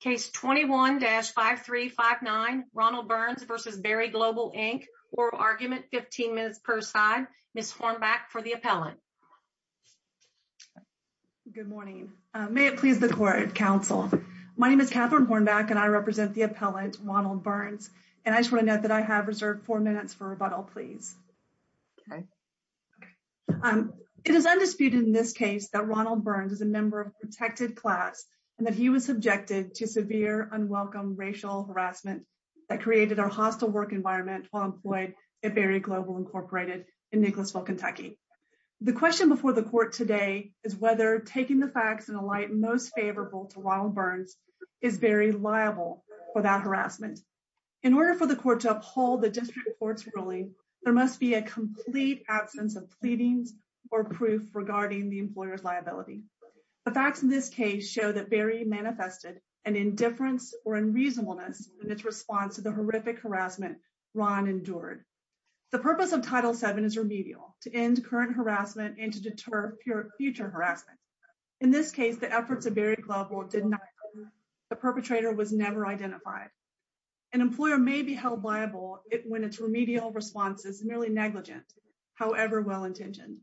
Case 21-5359, Ronald Burns v. Berry Global Inc. Oral Argument, 15 minutes per side. Ms. Hornback for the appellant. Good morning. May it please the court, counsel. My name is Catherine Hornback and I represent the appellant, Ronald Burns. And I just want to note that I have reserved four minutes for rebuttal, please. It is undisputed in this case that Ronald Burns is a member of a protected class and that he was subjected to severe unwelcome racial harassment that created our hostile work environment while employed at Berry Global Incorporated in Nicholasville, Kentucky. The question before the court today is whether taking the facts in a light most favorable to Ronald Burns is very liable for that harassment. In order for the court to uphold the district court's ruling, there must be a complete absence of pleadings or proof regarding the employer's liability. The facts in this case show that Berry manifested an indifference or unreasonableness in its response to the horrific harassment Ron endured. The purpose of Title VII is remedial, to end current harassment and to deter future harassment. In this case, the efforts of Berry Global did not occur. The perpetrator was never identified. An employer may be held liable when its remedial response is merely negligent, however well-intentioned.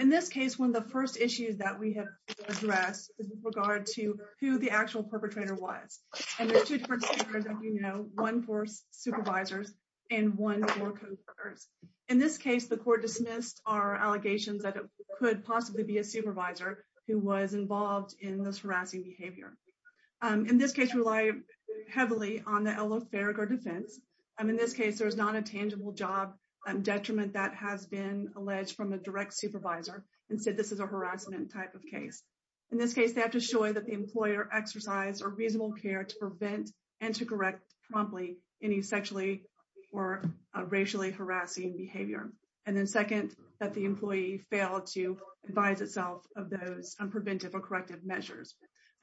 In this case, one of the first issues that we have addressed is with regard to who the actual perpetrator was. And there are two different speakers, as you know, one for supervisors and one for co-workers. In this case, the court dismissed our allegations that it could possibly be a supervisor who was involved in this harassing behavior. In this case, we rely heavily on the eloferic defense. In this case, there is not a tangible job detriment that has been alleged from a direct supervisor and said this is a harassment type of case. In this case, they have to show that the employer exercised a reasonable care to prevent and to correct promptly any sexually or racially harassing behavior. And then second, that the employee failed to advise itself of those preventive or corrective measures.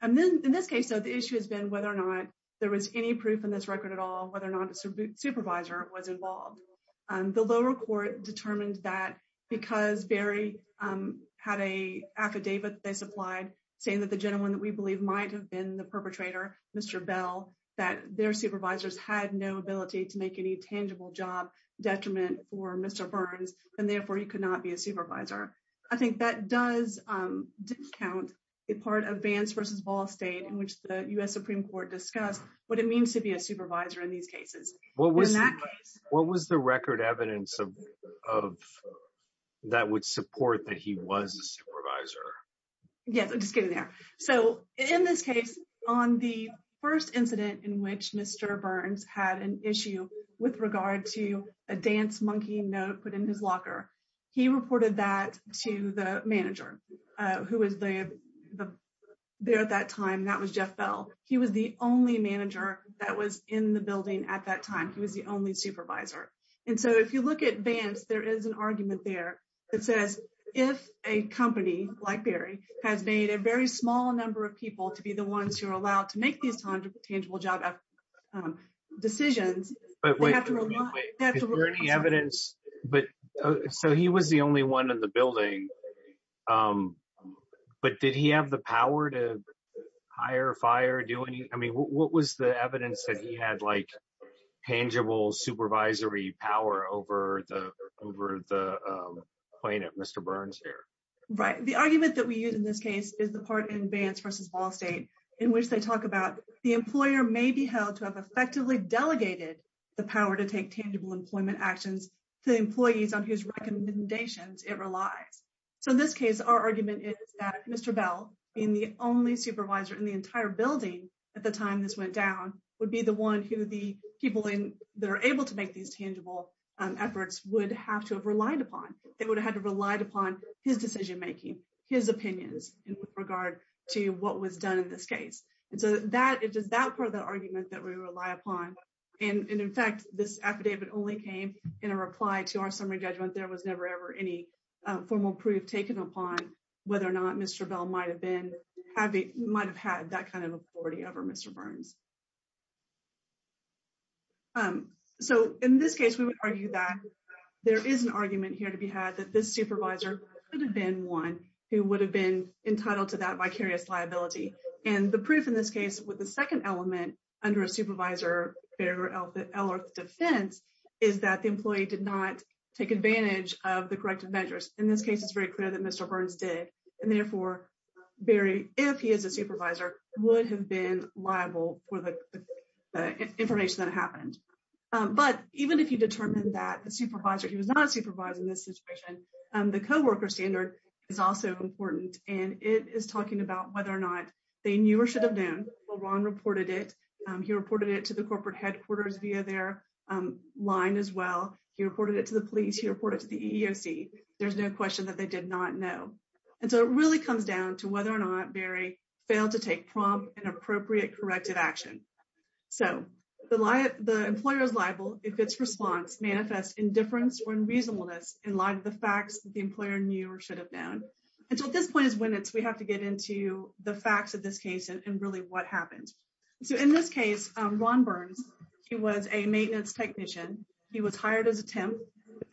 And then in this case, the issue has been whether or not there was any proof in this record at all, whether or not a supervisor was involved. The lower court determined that because Barry had a affidavit they supplied saying that the gentleman that we believe might have been the perpetrator, Mr. Bell, that their supervisors had no ability to make any tangible job detriment for Mr. Burns, and therefore he could not be a supervisor. I think that does discount a part of Vance v. Ball State in which the U.S. Supreme Court discussed what it means to be a supervisor in these cases. What was the record evidence that would support that he was a supervisor? Yes, just getting there. So in this case, on the first incident in which Mr. Burns had an issue with regard to a dance monkey note put in his locker, he reported that to the manager who was there at that time. That was Jeff Bell. He was the only manager that was in the building at that time. He was the only supervisor. And so if you look at Vance, there is an argument there that says, if a company like Barry has made a very small number of people to be the ones who are allowed to make these tangible job decisions. So he was the only one in the building, but did he have the power to hire, fire, do any? I mean, what was the evidence that he had tangible supervisory power over the plaintiff, Mr. Burns here? Right. The argument that we use in this case is the part in Vance versus Ball State in which they talk about the employer may be held to have effectively delegated the power to take tangible employment actions to employees on his recommendations. It relies. So in this case, our argument is that Mr. Bell in the only supervisor in the entire building at the time this went down would be the one who the people that are able to make these tangible efforts would have to have relied upon. It would have had to relied upon his decision making his opinions in regard to what was done in this case. And so that it is that part of the argument that we rely upon. And in fact, this affidavit only came in a reply to our summary judgment. There was never, ever any formal proof taken upon whether or not Mr. Bell might have been having might have had that kind of authority over Mr. Burns. So in this case, we would argue that there is an argument here to be had that this supervisor could have been one who would have been entitled to that vicarious liability and the proof in this case with the second element under a supervisor. Our defense is that the employee did not take advantage of the corrective measures. In this case, it's very clear that Mr. Burns did. And therefore, Barry, if he is a supervisor, would have been liable for the information that happened. But even if you determine that the supervisor, he was not a supervisor in this situation. The co-worker standard is also important, and it is talking about whether or not they knew or should have known Ron reported it. He reported it to the corporate headquarters via their line as well. He reported it to the police, he reported to the EEOC. There's no question that they did not know. And so it really comes down to whether or not Barry failed to take prompt and appropriate corrective action. So the employer is liable if its response manifests indifference or unreasonableness in light of the facts that the employer knew or should have known. And so at this point is when we have to get into the facts of this case and really what happened. So in this case, Ron Burns, he was a maintenance technician. He was hired as a temp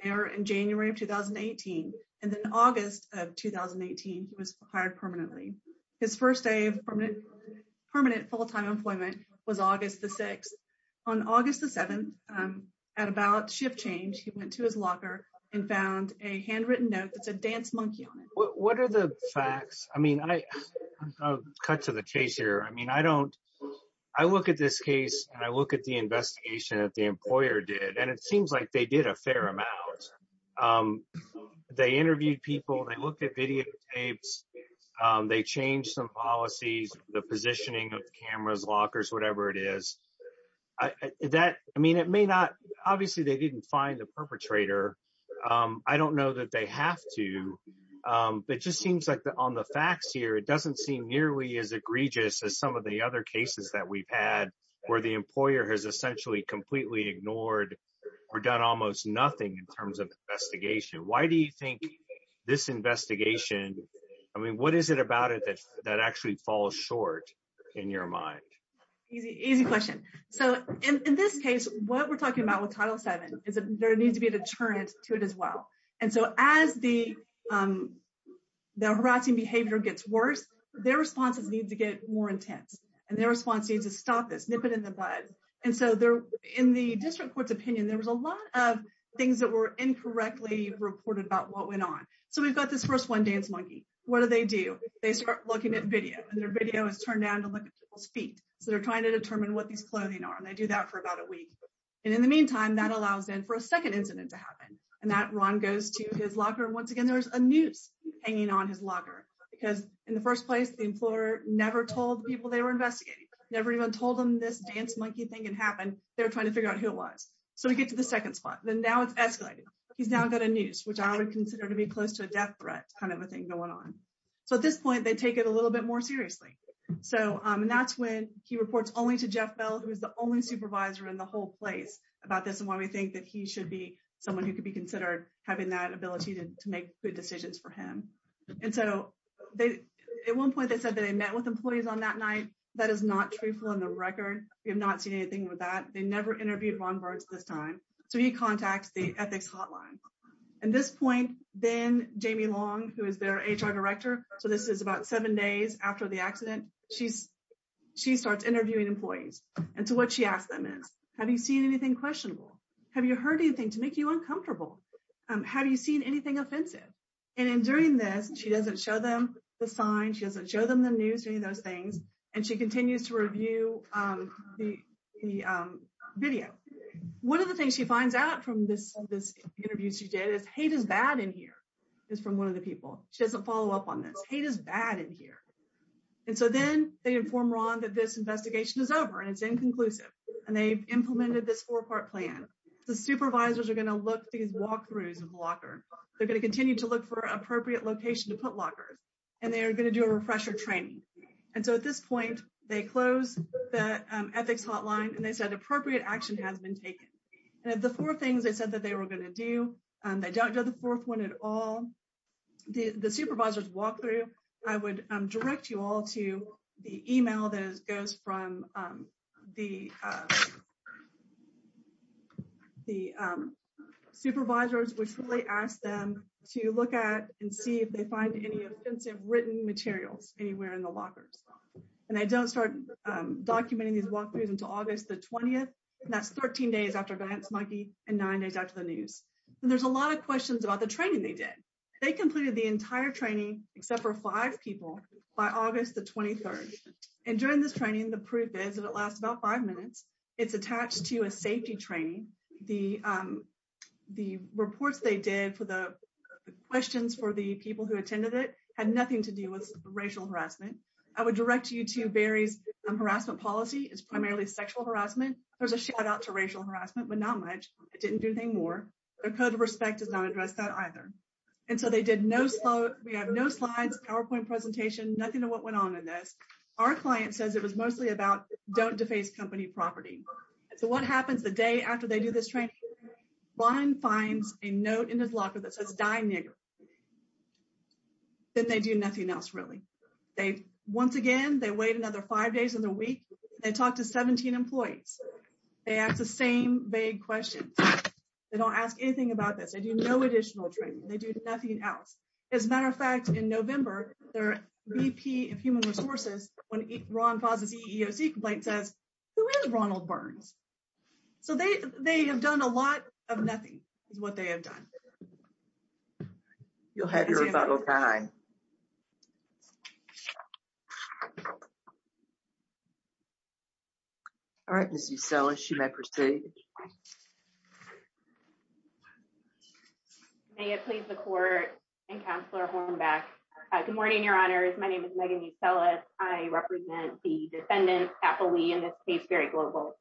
there in January of 2018. And then August of 2018, he was hired permanently. His first day of permanent full-time employment was August the 6th. On August the 7th, at about shift change, he went to his locker and found a handwritten note that said Dance Monkey on it. What are the facts? I mean, I cut to the chase here. I mean, I don't I look at this case and I look at the investigation that the employer did, and it seems like they did a fair amount. They interviewed people and they looked at videotapes. They changed some policies, the positioning of cameras, lockers, whatever it is that I mean, it may not. Obviously, they didn't find the perpetrator. I don't know that they have to. It just seems like on the facts here, it doesn't seem nearly as egregious as some of the other cases that we've had where the employer has essentially completely ignored. We're done almost nothing in terms of investigation. Why do you think this investigation? I mean, what is it about it that that actually falls short in your mind? Easy, easy question. So in this case, what we're talking about with Title seven is there needs to be a deterrent to it as well. And so as the the harassing behavior gets worse, their responses need to get more intense and their response needs to stop this nip it in the bud. And so they're in the district court's opinion, there was a lot of things that were incorrectly reported about what went on. So we've got this first one, Dance Monkey. What do they do? They start looking at video and their video is turned down to look at people's feet. So they're trying to determine what these clothing are and they do that for about a week. And in the meantime, that allows in for a second incident to happen and that Ron goes to his locker. And once again, there's a noose hanging on his locker because in the first place, the employer never told people they were investigating. Never even told them this Dance Monkey thing can happen. They're trying to figure out who it was. So we get to the second spot. Then now it's escalated. He's now got a noose, which I would consider to be close to a death threat kind of a thing going on. So at this point, they take it a little bit more seriously. So that's when he reports only to Jeff Bell, who is the only supervisor in the whole place about this and why we think that he should be someone who could be considered having that ability to make good decisions for him. And so they at one point, they said that they met with employees on that night. That is not truthful on the record. We have not seen anything with that. They never interviewed Ron Burds this time. So he contacts the ethics hotline. At this point, then Jamie Long, who is their HR director. So this is about seven days after the accident. She's she starts interviewing employees. And so what she asked them is, have you seen anything questionable? Have you heard anything to make you uncomfortable? Have you seen anything offensive? And in during this, she doesn't show them the sign. She doesn't show them the news or any of those things. And she continues to review the video. One of the things she finds out from this, this interview she did is hate is bad in here is from one of the people. She doesn't follow up on this. Hate is bad in here. And so then they inform Ron that this investigation is over and it's inconclusive. And they've implemented this four part plan. The supervisors are going to look these walkthroughs of locker. They're going to continue to look for appropriate location to put lockers and they are going to do a refresher training. And so at this point, they close the ethics hotline and they said appropriate action has been taken. And the four things they said that they were going to do, they don't do the fourth one at all. The supervisors walkthrough, I would direct you all to the email that goes from the. The supervisors, which really asked them to look at and see if they find any offensive written materials anywhere in the lockers, and they don't start documenting these walkthroughs until August the 20th. That's 13 days after Vance Monkey and nine days after the news. And there's a lot of questions about the training they did. They completed the entire training, except for five people by August the 23rd. And during this training, the proof is that it lasts about five minutes. It's attached to a safety training. The the reports they did for the questions for the people who attended it had nothing to do with racial harassment. I would direct you to Barry's harassment policy is primarily sexual harassment. There's a shout out to racial harassment, but not much. It didn't do anything more. A code of respect does not address that either. And so they did no. So we have no slides, PowerPoint presentation, nothing to what went on in this. Our client says it was mostly about don't deface company property. So what happens the day after they do this training? Brian finds a note in his locker that says, die nigger. Then they do nothing else, really. They once again, they wait another five days in the week. They talk to 17 employees. They ask the same big question. They don't ask anything about this. I do no additional training. They do nothing else. As a matter of fact, in November, their VP of Human Resources, when Ron causes a complaint, says Ronald Burns. So they they have done a lot of nothing is what they have done. You'll have your final time. All right. So she may proceed. May it please the court. Back. Good morning, Your Honor. My name is Megan. You tell us. I represent the defendant happily in this case. Very global.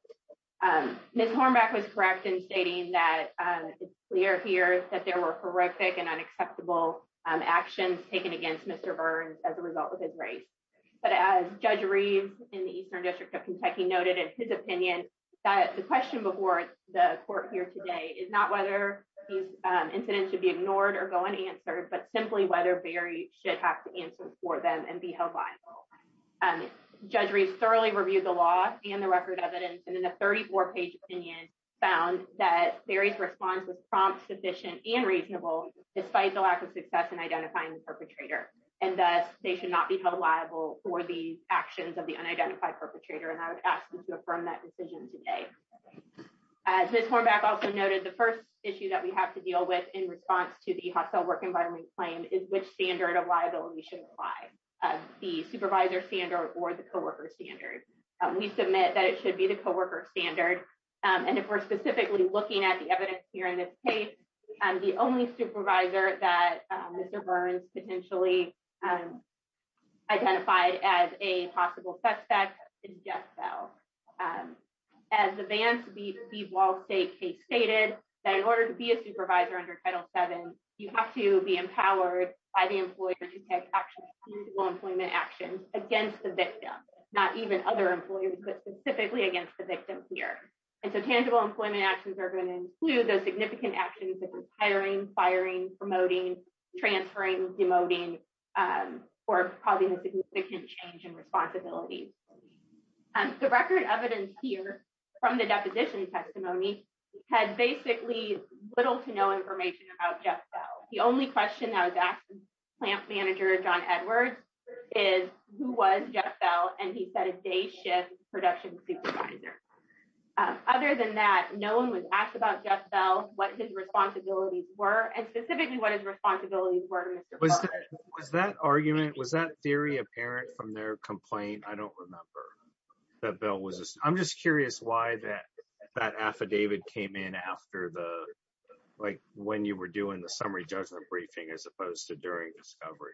Ms. Hornback was correct in stating that we are here, that there were horrific and unacceptable actions taken against Mr. Burns as a result of his race. But as Judge Reed in the Eastern District of Kentucky noted in his opinion, the question before the court here today is not whether these incidents should be ignored or go unanswered, but simply whether Barry should have to answer for them and be held liable. Judge Reeves thoroughly reviewed the law and the record of it. And in a 34 page opinion found that Barry's response was prompt, sufficient and reasonable, despite the lack of success in identifying the perpetrator. And that they should not be held liable for the actions of the unidentified perpetrator. And I would ask them to affirm that decision today. As Ms. Hornback also noted, the first issue that we have to deal with in response to the hostile work environment claim is which standard of liability should apply. The supervisor standard or the co-worker standard. We submit that it should be the co-worker standard. And if we're specifically looking at the evidence here in this case, the only supervisor that Mr. Burns potentially identified as a possible suspect is Jeff Bell. As the Vance B. Wall State case stated, that in order to be a supervisor under Title 7, you have to be empowered by the employer to take tangible employment actions against the victim, not even other employees, but specifically against the victim here. And so tangible employment actions are going to include those significant actions of hiring, firing, promoting, transferring, demoting, or probably a significant change in responsibility. The record evidence here from the deposition testimony had basically little to no information about Jeff Bell. The only question I was asked from plant manager John Edwards is who was Jeff Bell? And he said a day shift production supervisor. Other than that, no one was asked about Jeff Bell, what his responsibilities were and specifically what his responsibilities were to Mr. Burns. Was that argument, was that theory apparent from their complaint? I don't remember. I'm just curious why that that affidavit came in after the like when you were doing the summary judgment briefing as opposed to during discovery.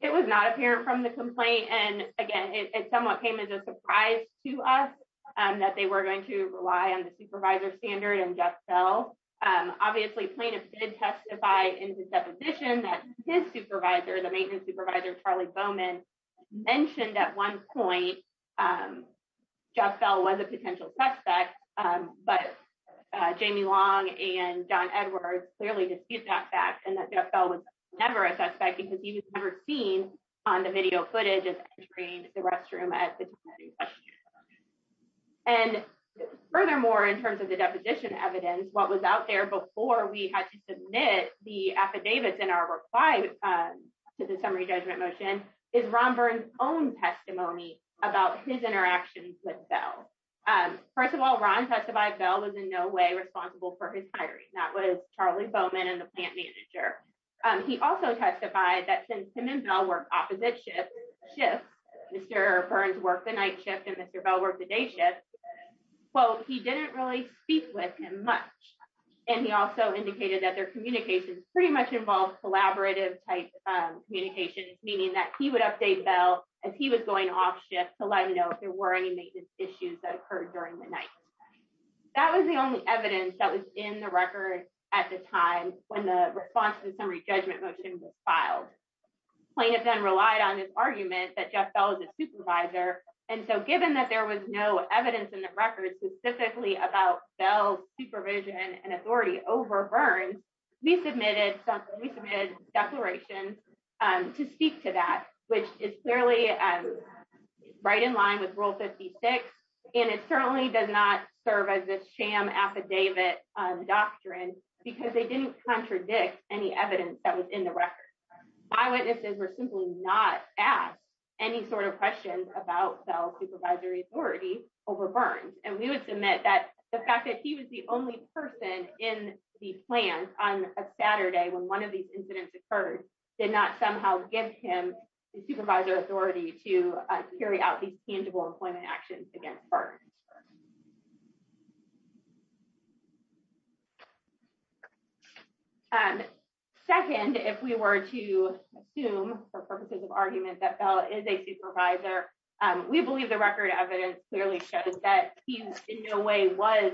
It was not apparent from the complaint. And again, it somewhat came as a surprise to us that they were going to rely on the supervisor standard and Jeff Bell. Obviously, plaintiffs did testify in the deposition that his supervisor, the maintenance supervisor, Charlie Bowman, mentioned at one point Jeff Bell was a potential suspect. But Jamie Long and John Edwards clearly discussed that fact and that Jeff Bell was never a suspect because he was never seen on the video footage of entering the restroom. And furthermore, in terms of the deposition evidence, what was out there before we had to submit the affidavits in our reply to the summary judgment motion is Robert's own testimony about his interactions with Bell. First of all, Ron testified Bell was in no way responsible for his hiring. That was Charlie Bowman and the plant manager. He also testified that since him and Bell were opposite shifts, Mr. Burns worked the night shift and Mr. Bell worked the day shift. Well, he didn't really speak with him much. And he also indicated that their communications pretty much involved collaborative type communication, meaning that he would update Bell as he was going off shift to let you know if there were any issues that occurred during the night. That was the only evidence that was in the record at the time when the response to the summary judgment motion was filed. Plaintiffs then relied on this argument that Jeff Bell was a supervisor. And so given that there was no evidence in the record specifically about Bell's supervision and authority over Burns, we submitted a declaration to speak to that, which is clearly right in line with Rule 56. And it certainly does not serve as this sham affidavit doctrine because they didn't contradict any evidence that was in the record. Eyewitnesses were simply not asked any sort of questions about Bell's supervisory authority over Burns. And we would submit that the fact that he was the only person in the plan on a Saturday when one of these incidents occurred, did not somehow give him the supervisor authority to carry out these tangible employment actions against Burns. Second, if we were to assume for purposes of argument that Bell is a supervisor, we believe the record evidence clearly shows that he in no way was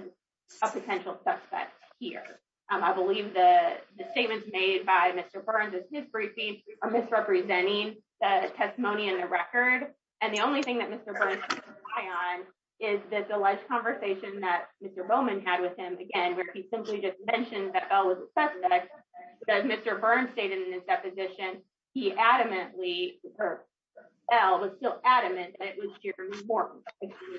a potential suspect here. I believe the statements made by Mr. Burns in his briefing are misrepresenting the testimony in the record. And the only thing that Mr. Burns can rely on is this alleged conversation that Mr. Bowman had with him again, where he simply just mentioned that Bell was a suspect. As Mr. Burns stated in his deposition, he adamantly, or Bell was still adamant that it was Jerry Morton.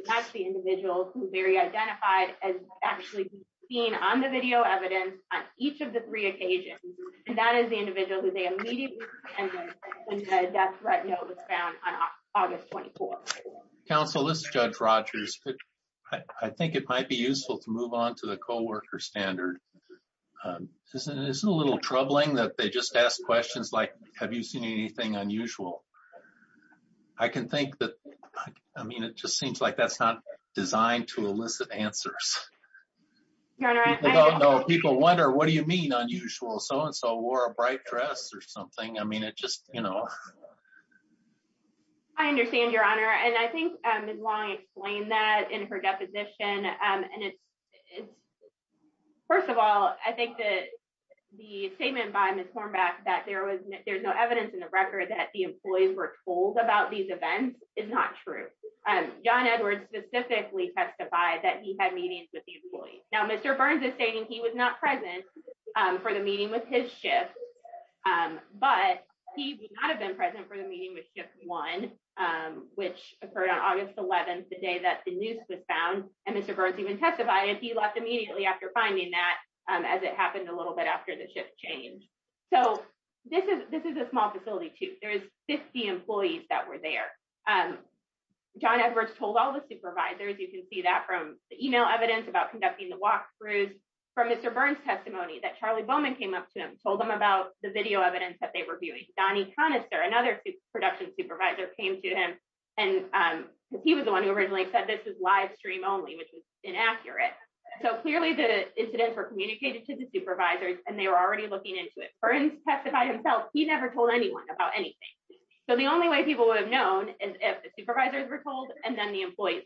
That's the individual who Barry identified as actually being on the video evidence on each of the three occasions. And that is the individual who they immediately suspended when the death threat note was found on August 24th. Counsel, this is Judge Rogers. I think it might be useful to move on to the coworker standard. This is a little troubling that they just ask questions like, have you seen anything unusual? I can think that. I mean, it just seems like that's not designed to elicit answers. People wonder, what do you mean unusual? So and so wore a bright dress or something. I mean, it just, you know. I understand, Your Honor. And I think Ms. Long explained that in her deposition. And it's first of all, I think that the statement by Ms. Hornback that there was there's no evidence in the record that the employees were told about these events is not true. John Edwards specifically testified that he had meetings with the employees. Now, Mr. Burns is stating he was not present for the meeting with his shift, but he would not have been present for the meeting with just one, which occurred on August 11th, the day that the news was found and Mr. Burns even testified if he left immediately after finding that as it happened a little bit after the shift change. So this is this is a small facility to there is 50 employees that were there. John Edwards told all the supervisors, you can see that from the email evidence about conducting the walkthroughs from Mr. Burns testimony that Charlie Bowman came up to him, told them about the video evidence that they were viewing. Donnie Conister, another production supervisor, came to him and he was the one who originally said this is live stream only, which was inaccurate. So clearly, the incidents were communicated to the supervisors and they were already looking into it. Mr. Burns testified himself. He never told anyone about anything. So the only way people would have known is if the supervisors were told and then the employees.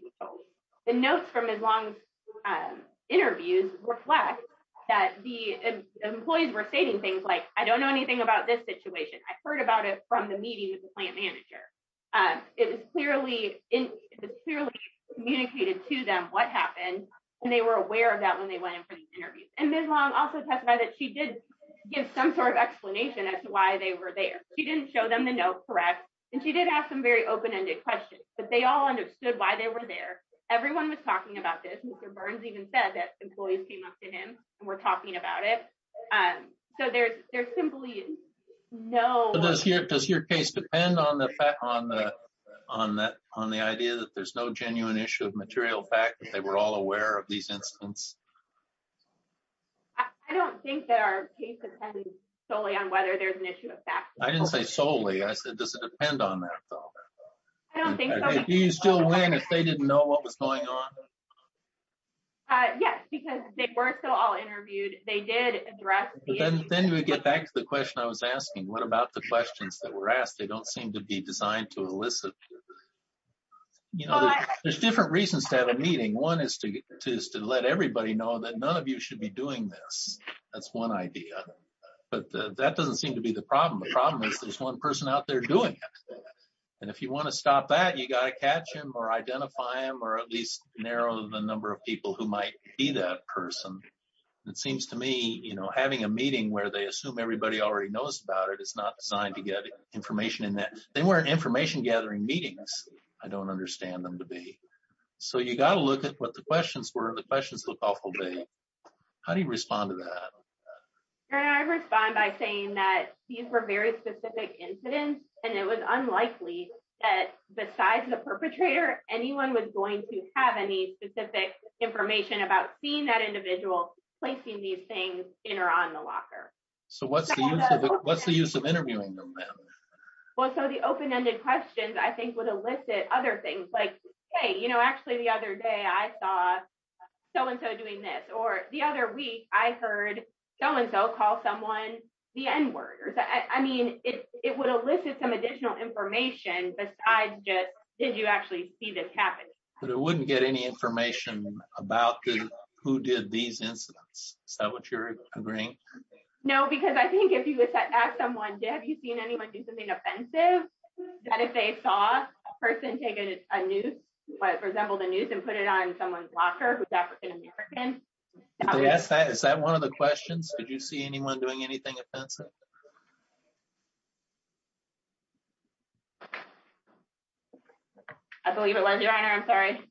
The notes from as long interviews reflect that the employees were stating things like, I don't know anything about this situation. I heard about it from the meeting with the plant manager. Clearly, it was clearly communicated to them what happened and they were aware of that when they went in for the interview. And this long also testified that she did give some sort of explanation as to why they were there. She didn't show them the note. Correct. And she did have some very open ended questions, but they all understood why they were there. Everyone was talking about this. Mr. Burns even said that employees came up to him and were talking about it. So there's there's simply no. Does your case depend on the fact on the on that on the idea that there's no genuine issue of material fact that they were all aware of these incidents? I don't think that our case depends solely on whether there's an issue of fact. I didn't say solely. I said, does it depend on that? Do you still win if they didn't know what was going on? Yes, because they were still all interviewed. They did address. Then we get back to the question I was asking, what about the questions that were asked? They don't seem to be designed to elicit. You know, there's different reasons to have a meeting. One is to is to let everybody know that none of you should be doing this. That's one idea. But that doesn't seem to be the problem. The problem is there's one person out there doing it. And if you want to stop that, you got to catch him or identify him or at least narrow the number of people who might be that person. It seems to me, you know, having a meeting where they assume everybody already knows about it. It's not designed to get information in that they weren't information gathering meetings. I don't understand them to be. So you got to look at what the questions were. The questions look awful big. How do you respond to that? I respond by saying that these were very specific incidents and it was unlikely that besides the perpetrator, anyone was going to have any specific information about seeing that individual placing these things in or on the locker. So what's the what's the use of interviewing them? Well, so the open ended questions, I think, would elicit other things like, hey, you know, so-and-so doing this or the other week I heard so-and-so call someone the N-word. I mean, it would elicit some additional information besides just did you actually see this happen? But it wouldn't get any information about who did these incidents. Is that what you're agreeing? No, because I think if you ask someone, have you seen anyone do something offensive? That if they saw a person taking a new resemble the news and put it on someone's locker, African-American. Yes. Is that one of the questions? Did you see anyone doing anything offensive? I believe it was your honor. I'm sorry.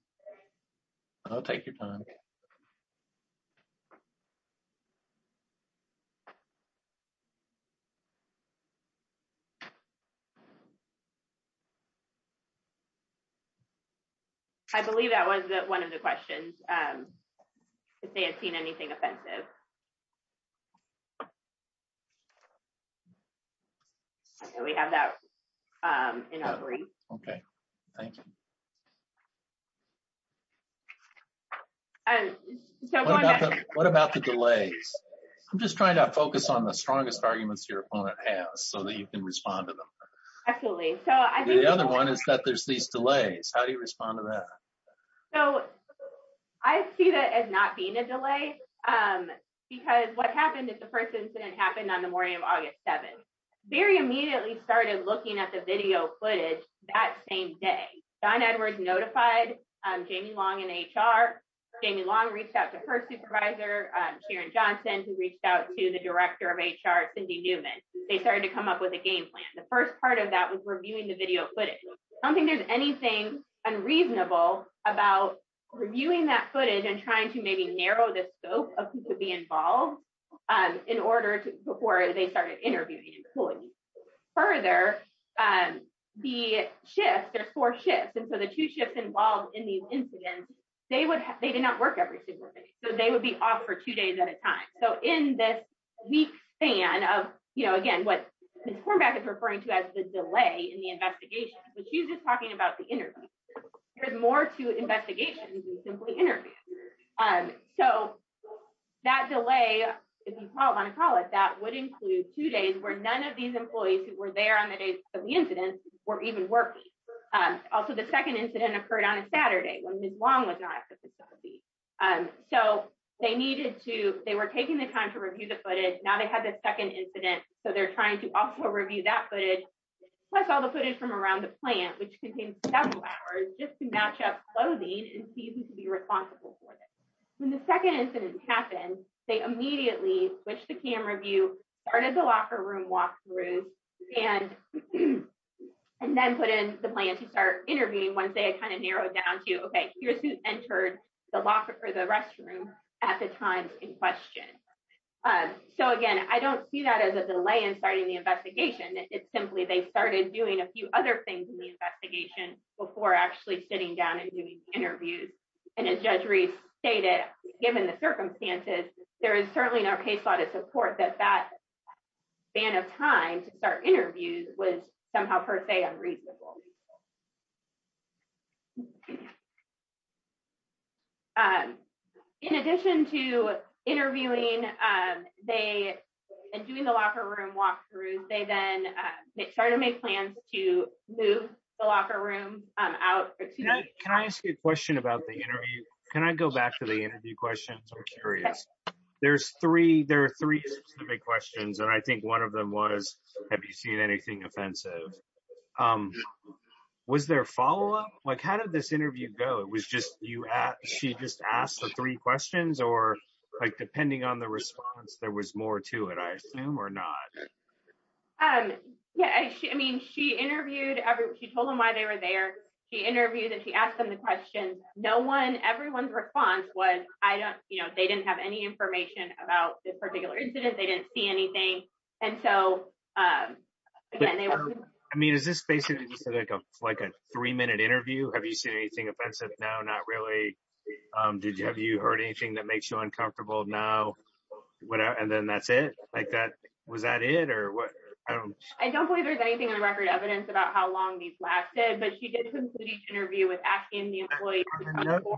I'll take your time. OK. I believe that was one of the questions. If they have seen anything offensive. We have that. OK, thank you. And so what about the delays? I'm just trying to focus on the strongest arguments your opponent has so that you can respond to them. Absolutely. So I think the other one is that there's these delays. How do you respond to that? So I see that as not being a delay, because what happened is the first incident happened on the morning of August 7th. Very immediately started looking at the video footage that same day. Don Edwards notified Jamie Long and HR. Jamie Long reached out to her supervisor, Sharon Johnson, who reached out to the director of HR, Cindy Newman. They started to come up with a game plan. The first part of that was reviewing the video footage. I don't think there's anything unreasonable about reviewing that footage and trying to maybe narrow the scope of who could be involved in order to before they started interviewing employees. Further, the shift, there's four shifts. And so the two shifts involved in the incident, they would they did not work every single day. So they would be off for two days at a time. So in this week span of, you know, again, what Ms. Cornback is referring to as the delay in the investigation, which she's just talking about the interview. There's more to investigations than simply interviews. So that delay, if you want to call it, that would include two days where none of these employees who were there on the day of the incident were even working. Also, the second incident occurred on a Saturday when Ms. Long was not at the facility. So they needed to, they were taking the time to review the footage. Now they had the second incident. So they're trying to also review that footage. Plus all the footage from around the plant, which contains several hours just to match up clothing and see who could be responsible for it. When the second incident happened, they immediately switched the camera view, started the locker room walkthrough, and then put in the plan to start interviewing once they had kind of narrowed down to, okay, here's who entered the locker or the restroom at the time in question. So again, I don't see that as a delay in starting the investigation. It's simply they started doing a few other things in the investigation before actually sitting down and doing interviews. And as Judge Reese stated, given the circumstances, there is certainly no case law to support that that span of time to start interviews was somehow per se unreasonable. In addition to interviewing and doing the locker room walkthrough, they then started to make plans to move the locker room out. Can I ask you a question about the interview? Can I go back to the interview questions? I'm curious. There are three specific questions, and I think one of them was, have you seen anything offensive? Was there follow-up? How did this interview go? She just asked the three questions, or depending on the response, there was more to it, I assume, or not? Yeah, I mean, she interviewed, she told them why they were there. She interviewed and she asked them the questions. No one, everyone's response was, I don't, you know, they didn't have any information about this particular incident. They didn't see anything. And so, I mean, is this basically like a three-minute interview? Have you seen anything offensive? No, not really. Did you, have you heard anything that makes you uncomfortable now? And then that's it? Like that, was that it? Or what? I don't believe there's anything in the record evidence about how long these lasted, but she did complete each interview with asking the employee.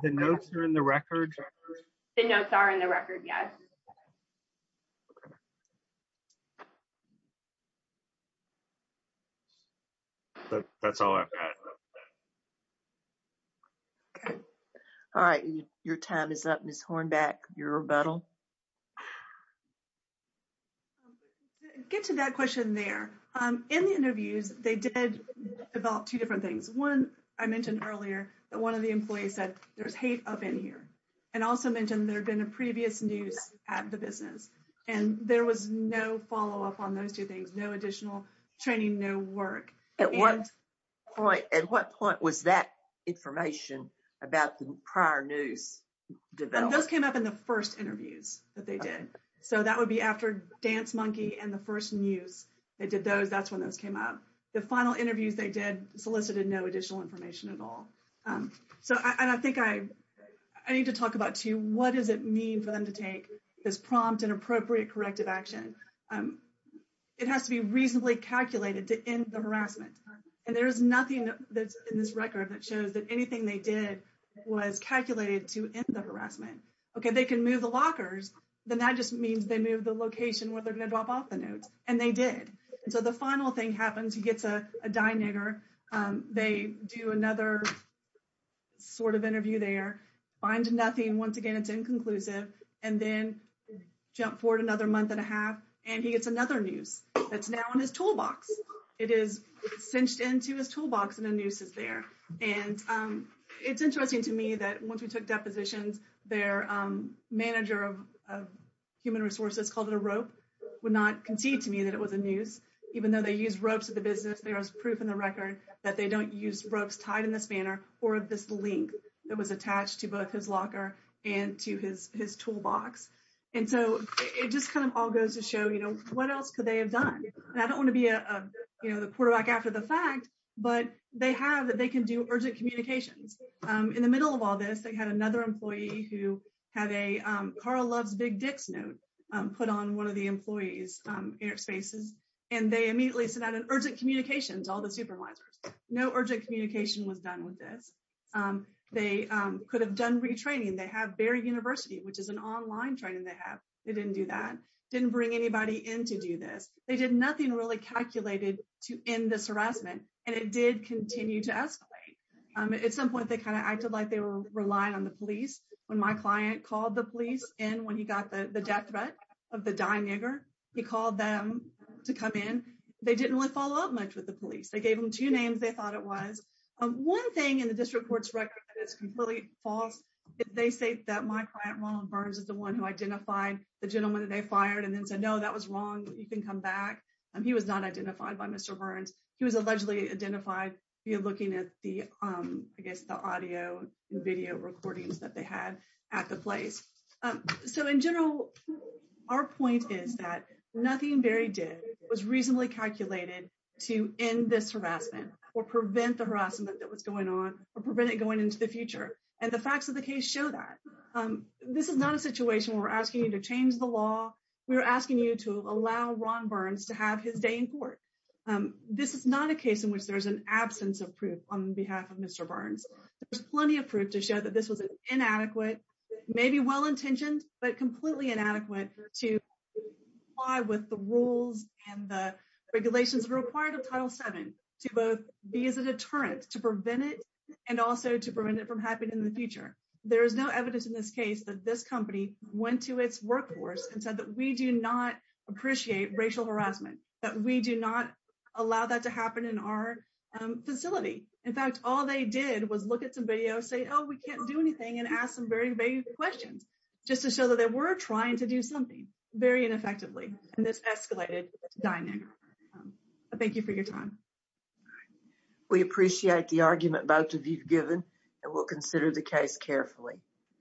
The notes are in the record? The notes are in the record, yes. That's all I've got. All right, your time is up, Ms. Hornback, your rebuttal. Get to that question there. In the interviews, they did develop two different things. One, I mentioned earlier that one of the employees said, there's hate up in here, and also mentioned there had been a previous noose at the business, and there was no follow-up on those two things, no additional training, no work. At what point, at what point was that information about the prior noose developed? Those came up in the first interviews that they did. So that would be after Dance Monkey and the first noose, they did those, that's when those came up. The final interviews they did solicited no additional information at all. And I think I need to talk about, too, what does it mean for them to take this prompt and appropriate corrective action? It has to be reasonably calculated to end the harassment. And there is nothing in this record that shows that anything they did was calculated to end the harassment. Okay, they can move the lockers, then that just means they moved the location where they're going to drop off the noose, and they did. And so the final thing happens, he gets a diner. They do another sort of interview there, find nothing. Once again, it's inconclusive. And then jump forward another month and a half, and he gets another noose that's now in his toolbox. It is cinched into his toolbox, and the noose is there. And it's interesting to me that once we took depositions, their manager of human resources called it a rope, would not concede to me that it was a noose. Even though they use ropes at the business, there is proof in the record that they don't use ropes tied in this manner or this link that was attached to both his locker and to his toolbox. And so it just kind of all goes to show, you know, what else could they have done? And I don't want to be, you know, the quarterback after the fact, but they have, they can do urgent communications. In the middle of all this, they had another employee who had a Carl Loves Big Dicks note put on one of the employees' airspaces, and they immediately sent out an urgent communications to all the supervisors. No urgent communication was done with this. They could have done retraining. They have Bayer University, which is an online training they have. They didn't do that. Didn't bring anybody in to do this. They did nothing really calculated to end this harassment, and it did continue to escalate. At some point, they kind of acted like they were relying on the police. When my client called the police in when he got the death threat of the dying nigger, he called them to come in. They didn't really follow up much with the police. They gave them two names they thought it was. One thing in the district court's record that is completely false, they say that my client, Ronald Burns, is the one who identified the gentleman that they fired and then said, no, that was wrong. You can come back. He was not identified by Mr. Burns. He was allegedly identified via looking at the, I guess, the audio and video recordings that they had at the place. So in general, our point is that nothing very good was reasonably calculated to end this harassment or prevent the harassment that was going on or prevent it going into the future. And the facts of the case show that. This is not a situation where we're asking you to change the law. We were asking you to allow Ron Burns to have his day in court. This is not a case in which there is an absence of proof on behalf of Mr. Burns. There's plenty of proof to show that this was an inadequate, maybe well-intentioned, but completely inadequate to comply with the rules and the regulations required of Title VII to both be as a deterrent to prevent it and also to prevent it from happening in the future. There is no evidence in this case that this company went to its workforce and said that we do not appreciate racial harassment, that we do not allow that to happen in our facility. In fact, all they did was look at some videos, say, oh, we can't do anything, and ask some very vague questions just to show that they were trying to do something very ineffectively. And this escalated to Dining Room. Thank you for your time. We appreciate the argument both of you have given, and we'll consider the case carefully.